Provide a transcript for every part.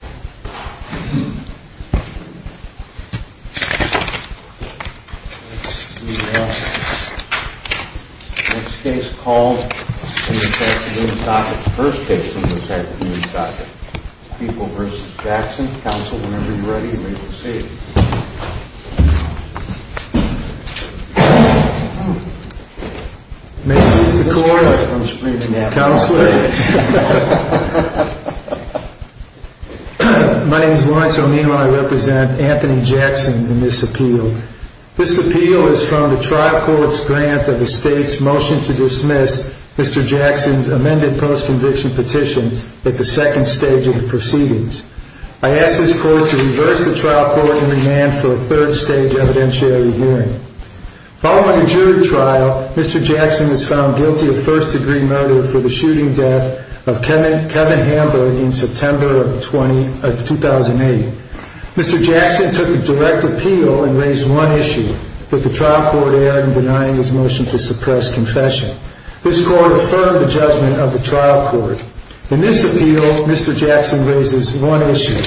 The next case is called in the type of news docket. The first case is in the type of news docket. People v. Jackson. Counsel, whenever you're ready, you may proceed. Lawrence O'Neill My name is Lawrence O'Neill. I represent Anthony Jackson in this appeal. This appeal is from the trial court's grant of the state's motion to dismiss Mr. Jackson's amended postconviction petition at the second stage of the proceedings. I ask this court to reverse the trial court and demand for a third stage evidentiary hearing. Following a jury trial, Mr. Jackson was found guilty of first degree murder for the shooting death of Kevin Hamburg in September 2008. Mr. Jackson took a direct appeal and raised one issue, that the trial court erred in denying his motion to suppress confession. This court affirmed the judgment of the trial court. In this appeal, Mr. Jackson raises one issue.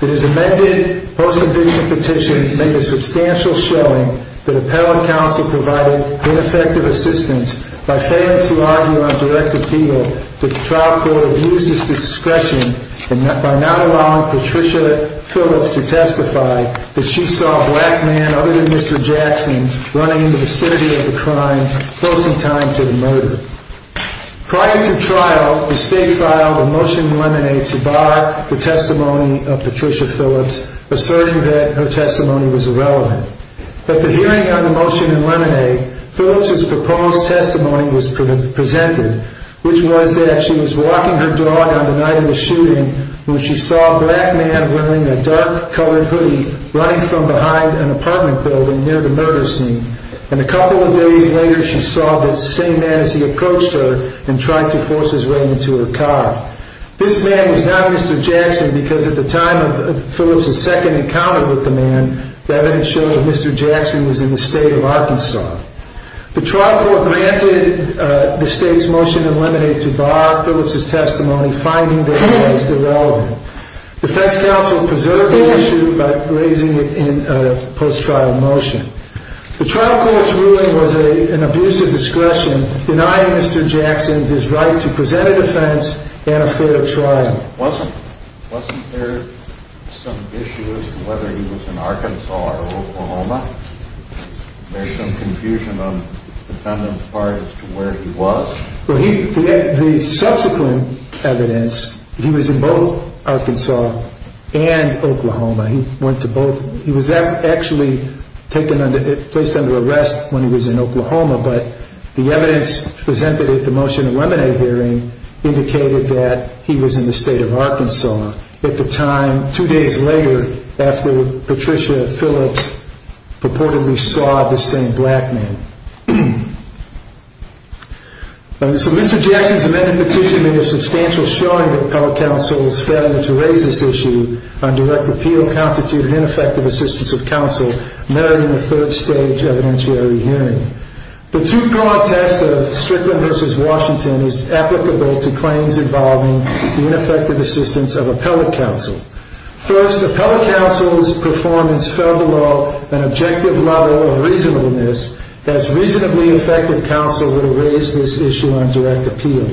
That his amended postconviction petition made a substantial showing that appellate counsel provided ineffective assistance by failing to argue on direct appeal, that the trial court abused his discretion by not allowing Patricia Phillips to testify that she saw a black man other than Mr. Jackson running in the vicinity of the crime, close in time to the murder. Prior to trial, the state filed a motion in lemonade to bar the testimony of Patricia Phillips, asserting that her testimony was irrelevant. At the hearing on the motion in lemonade, Phillips' proposed testimony was presented, which was that she was walking her dog on the night of the shooting when she saw a black man wearing a dark colored hoodie running from behind an apartment building near the murder scene. A couple of days later, she saw the same man as he approached her and tried to force his way into her car. This man was not Mr. Jackson because at the time of Phillips' second encounter with the man, the evidence showed that Mr. Jackson was in the state of Arkansas. The trial court granted the state's motion in lemonade to bar Phillips' testimony, finding that it was irrelevant. Defense counsel preserved the issue by raising it in a post-trial motion. The trial court's ruling was an abuse of discretion, denying Mr. Jackson his right to present a defense and a fair trial. Wasn't there some issue as to whether he was in Arkansas or Oklahoma? Was there some confusion on the defendant's part as to where he was? The subsequent evidence, he was in both Arkansas and Oklahoma. He was actually placed under arrest when he was in Oklahoma, but the evidence presented at the motion in lemonade hearing indicated that he was in the state of Arkansas at the time, two days later, after Patricia Phillips purportedly saw the same black man. Mr. Jackson's amendment petition made a substantial showing of appellate counsel's failure to raise this issue on direct appeal constituted ineffective assistance of counsel, meriting a third stage evidentiary hearing. The two-part test of Strickland v. Washington is applicable to claims involving ineffective assistance of appellate counsel. First, appellate counsel's performance fell below an objective level of reasonableness as reasonably effective counsel would have raised this issue on direct appeal.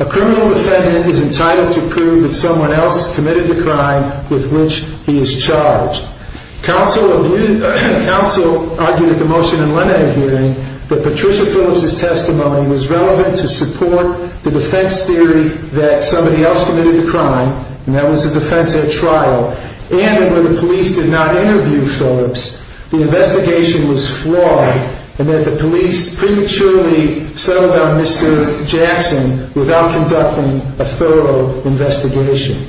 A criminal defendant is entitled to prove that someone else committed the crime with which he is charged. Counsel argued at the motion in lemonade hearing that Patricia Phillips' testimony was relevant to support the defense theory that somebody else committed the crime, and that was the defense at trial. And where the police did not interview Phillips, the investigation was flawed, and that the police prematurely settled on Mr. Jackson without conducting a thorough investigation.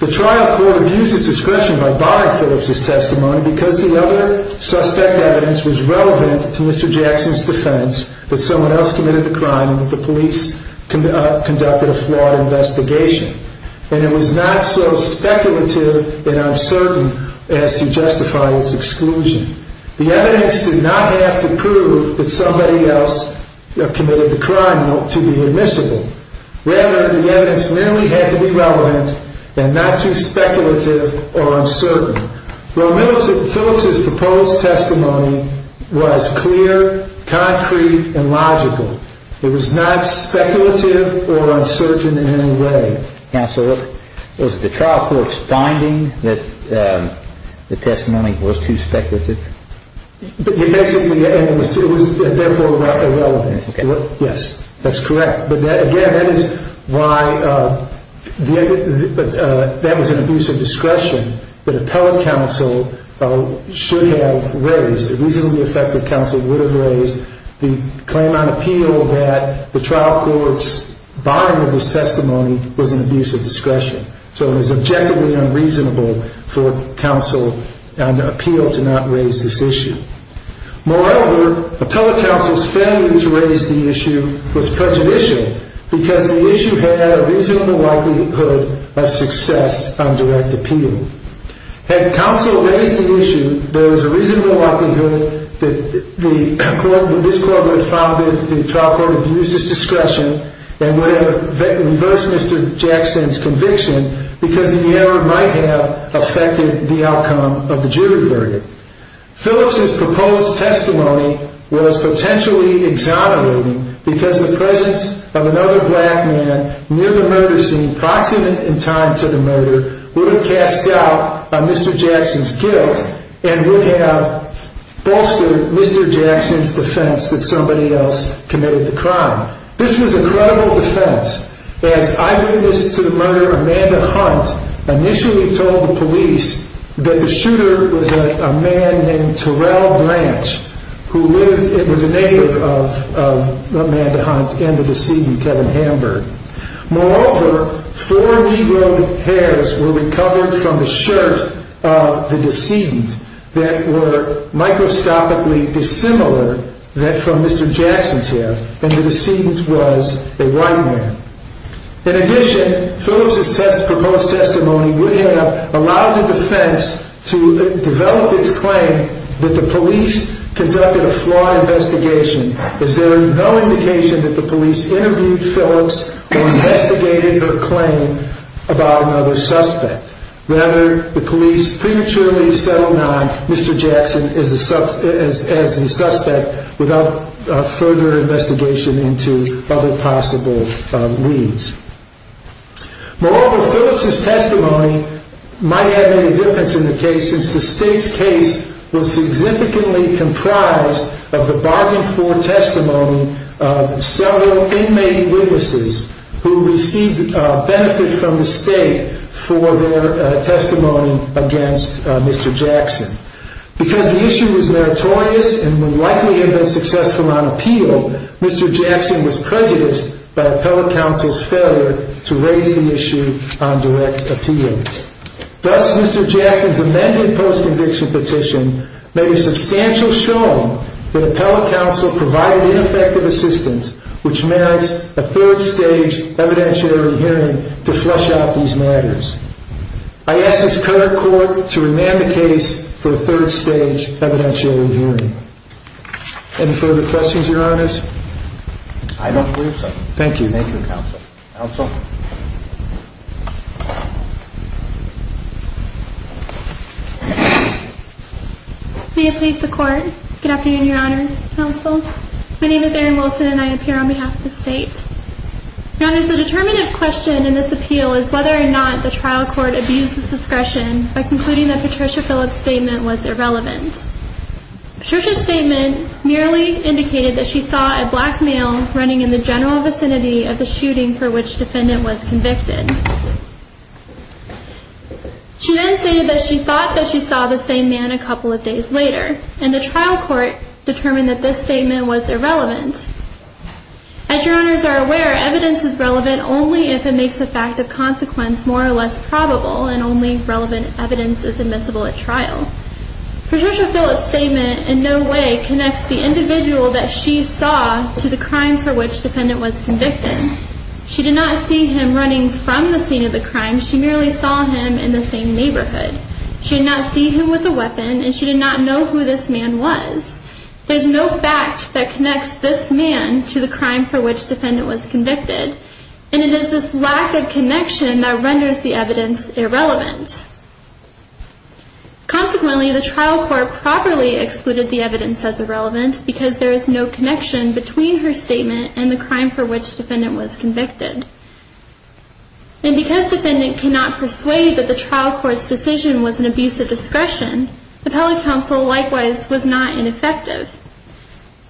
The trial court abused its discretion by buying Phillips' testimony because the other suspect evidence was relevant to Mr. Jackson's defense that someone else committed the crime and that the police conducted a flawed investigation. And it was not so speculative and uncertain as to justify its exclusion. The evidence did not have to prove that somebody else committed the crime to be admissible. Rather, the evidence merely had to be relevant and not too speculative or uncertain. Phillips' proposed testimony was clear, concrete, and logical. It was not speculative or uncertain in any way. The trial court's finding that the testimony was too speculative? Yes, that's correct. But again, that was an abuse of discretion that appellate counsel should have raised. A reasonably effective counsel would have raised the claim on appeal that the trial court's buying of this testimony was an abuse of discretion. So it was objectively unreasonable for counsel on appeal to not raise this issue. Moreover, appellate counsel's failure to raise the issue was prejudicial because the issue had a reasonable likelihood of success on direct appeal. Had counsel raised the issue, there was a reasonable likelihood that this court would have found that the trial court abused its discretion and would have reversed Mr. Jackson's conviction because the error might have affected the outcome of the jury verdict. Phillips' proposed testimony was potentially exonerating because the presence of another black man near the murder scene proximate in time to the murder would have cast doubt on Mr. Jackson's guilt and would have bolstered Mr. Jackson's defense that somebody else committed the crime. This was a credible defense as eyewitness to the murder, Amanda Hunt, initially told the police that the shooter was a man named Terrell Blanche who was a neighbor of Amanda Hunt and the decedent, Kevin Hamburg. Moreover, four negro hairs were recovered from the shirt of the decedent that were microscopically dissimilar from Mr. Jackson's hair and the decedent was a white man. In addition, Phillips' proposed testimony would have allowed the defense to develop its claim that the police conducted a flawed investigation as there is no indication that the police interviewed Phillips or investigated her claim about another suspect. Rather, the police prematurely settled on Mr. Jackson as the suspect without further investigation into other possible leads. Moreover, Phillips' testimony might have made a difference in the case since the state's case was significantly comprised of the bargain for testimony of several inmate witnesses who received benefit from the state for their testimony against Mr. Jackson. Because the issue was meritorious and would likely have been successful on appeal, Mr. Jackson was prejudiced by appellate counsel's failure to raise the issue on direct appeal. Thus, Mr. Jackson's amended post-conviction petition made a substantial showing that appellate counsel provided ineffective assistance which merits a third stage evidentiary hearing to flush out these matters. I ask this current court to remand the case for a third stage evidentiary hearing. Any further questions, your honors? I don't believe so. Thank you. Thank you, counsel. Counsel? May it please the court. Good afternoon, your honors. Counsel. My name is Erin Wilson and I appear on behalf of the state. Your honors, the determinative question in this appeal is whether or not the trial court abused its discretion by concluding that Patricia Phillips' statement was irrelevant. Patricia's statement merely indicated that she saw a black male running in the general vicinity of the shooting for which the defendant was convicted. She then stated that she thought that she saw the same man a couple of days later, and the trial court determined that this statement was irrelevant. As your honors are aware, evidence is relevant only if it makes the fact of consequence more or less probable, and only relevant evidence is admissible at trial. Patricia Phillips' statement in no way connects the individual that she saw to the crime for which the defendant was convicted. She did not see him running from the scene of the crime. She merely saw him in the same neighborhood. She did not see him with a weapon, and she did not know who this man was. There is no fact that connects this man to the crime for which the defendant was convicted, and it is this lack of connection that renders the evidence irrelevant. Consequently, the trial court properly excluded the evidence as irrelevant because there is no connection between her statement and the crime for which the defendant was convicted. And because the defendant cannot persuade that the trial court's decision was an abuse of discretion, appellate counsel likewise was not ineffective.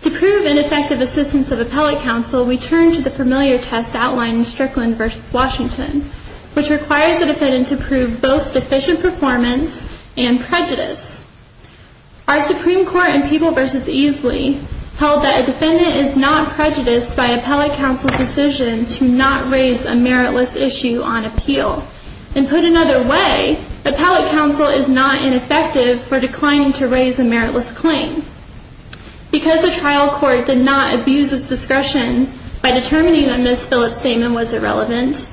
To prove ineffective assistance of appellate counsel, we turn to the familiar test outlined in Strickland v. Washington, which requires the defendant to prove both deficient performance and prejudice. Our Supreme Court in People v. Easley held that a defendant is not prejudiced by appellate counsel's decision to not raise a meritless issue on appeal. And put another way, appellate counsel is not ineffective for declining to raise a meritless claim. Because the trial court did not abuse its discretion by determining that Ms. Phillips' statement was irrelevant,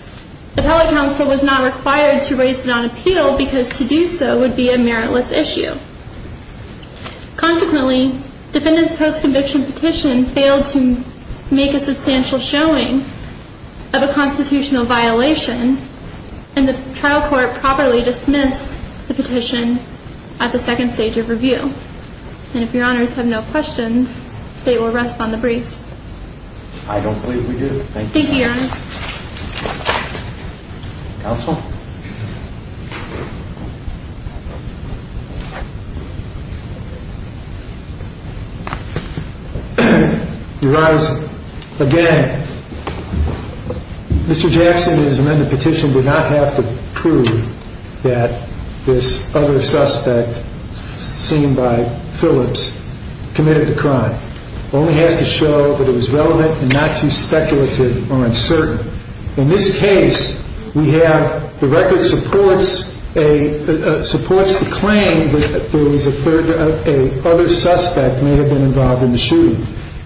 appellate counsel was not required to raise it on appeal because to do so would be a meritless issue. Consequently, defendant's post-conviction petition failed to make a substantial showing of a constitutional violation, and the trial court properly dismissed the petition at the second stage of review. And if your honors have no questions, the state will rest on the brief. I don't believe we do. Thank you. Thank you, your honors. Counsel? Your honors, again, Mr. Jackson's amended petition did not have to prove that this other suspect seen by Phillips committed the crime. It only has to show that it was relevant and not too speculative or uncertain. In this case, the record supports the claim that there was a third other suspect may have been involved in the shooting,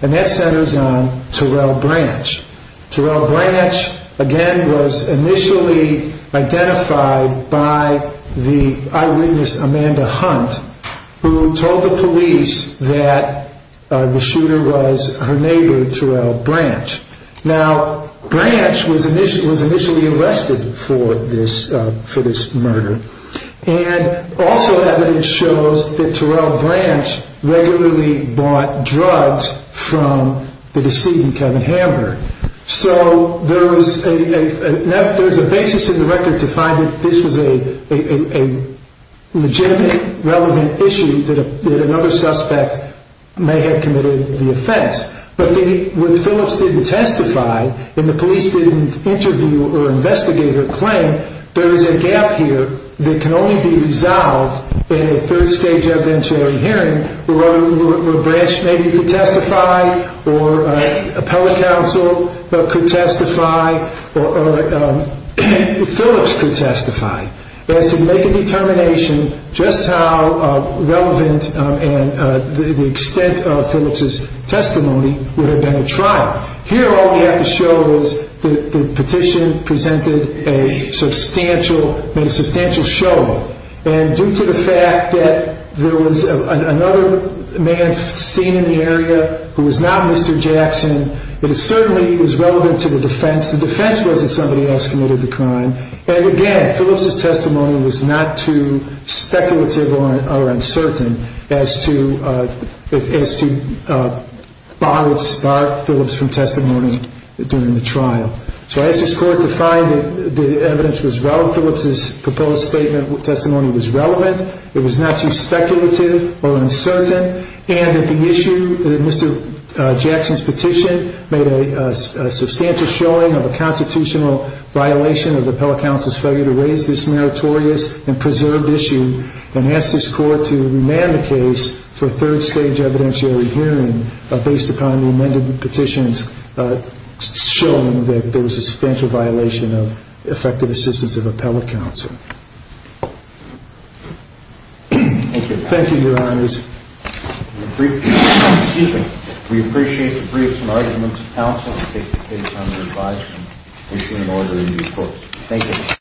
and that centers on Terrell Branch. Terrell Branch, again, was initially identified by the eyewitness Amanda Hunt, who told the police that the shooter was her neighbor, Terrell Branch. Now, Branch was initially arrested for this murder, and also evidence shows that Terrell Branch regularly bought drugs from the decedent, Kevin Hamber. So there's a basis in the record to find that this was a legitimate, relevant issue that another suspect may have committed the offense. But when Phillips didn't testify, and the police didn't interview or investigate her claim, there is a gap here that can only be resolved in a third-stage evidentiary hearing, where Branch maybe could testify, or appellate counsel could testify, or Phillips could testify. It has to make a determination just how relevant and the extent of Phillips' testimony would have been at trial. Here, all we have to show is that the petition presented a substantial, made a substantial show of it. And due to the fact that there was another man seen in the area who was not Mr. Jackson, it certainly was relevant to the defense. The defense was that somebody else committed the crime. And again, Phillips' testimony was not too speculative or uncertain as to buy Phillips from testimony during the trial. So I asked this Court to find if the evidence was relevant. Phillips' proposed statement of testimony was relevant. It was not too speculative or uncertain. And the issue that Mr. Jackson's petition made a substantial showing of a constitutional violation of appellate counsel's failure to raise this meritorious and preserved issue, and asked this Court to remand the case for a third-stage evidentiary hearing based upon the amended petition's showing that there was a substantial violation of effective assistance of appellate counsel. Thank you. Thank you, Your Honors. We appreciate the briefs and arguments of counsel to take the case under advice and issue an order in these courts. Thank you.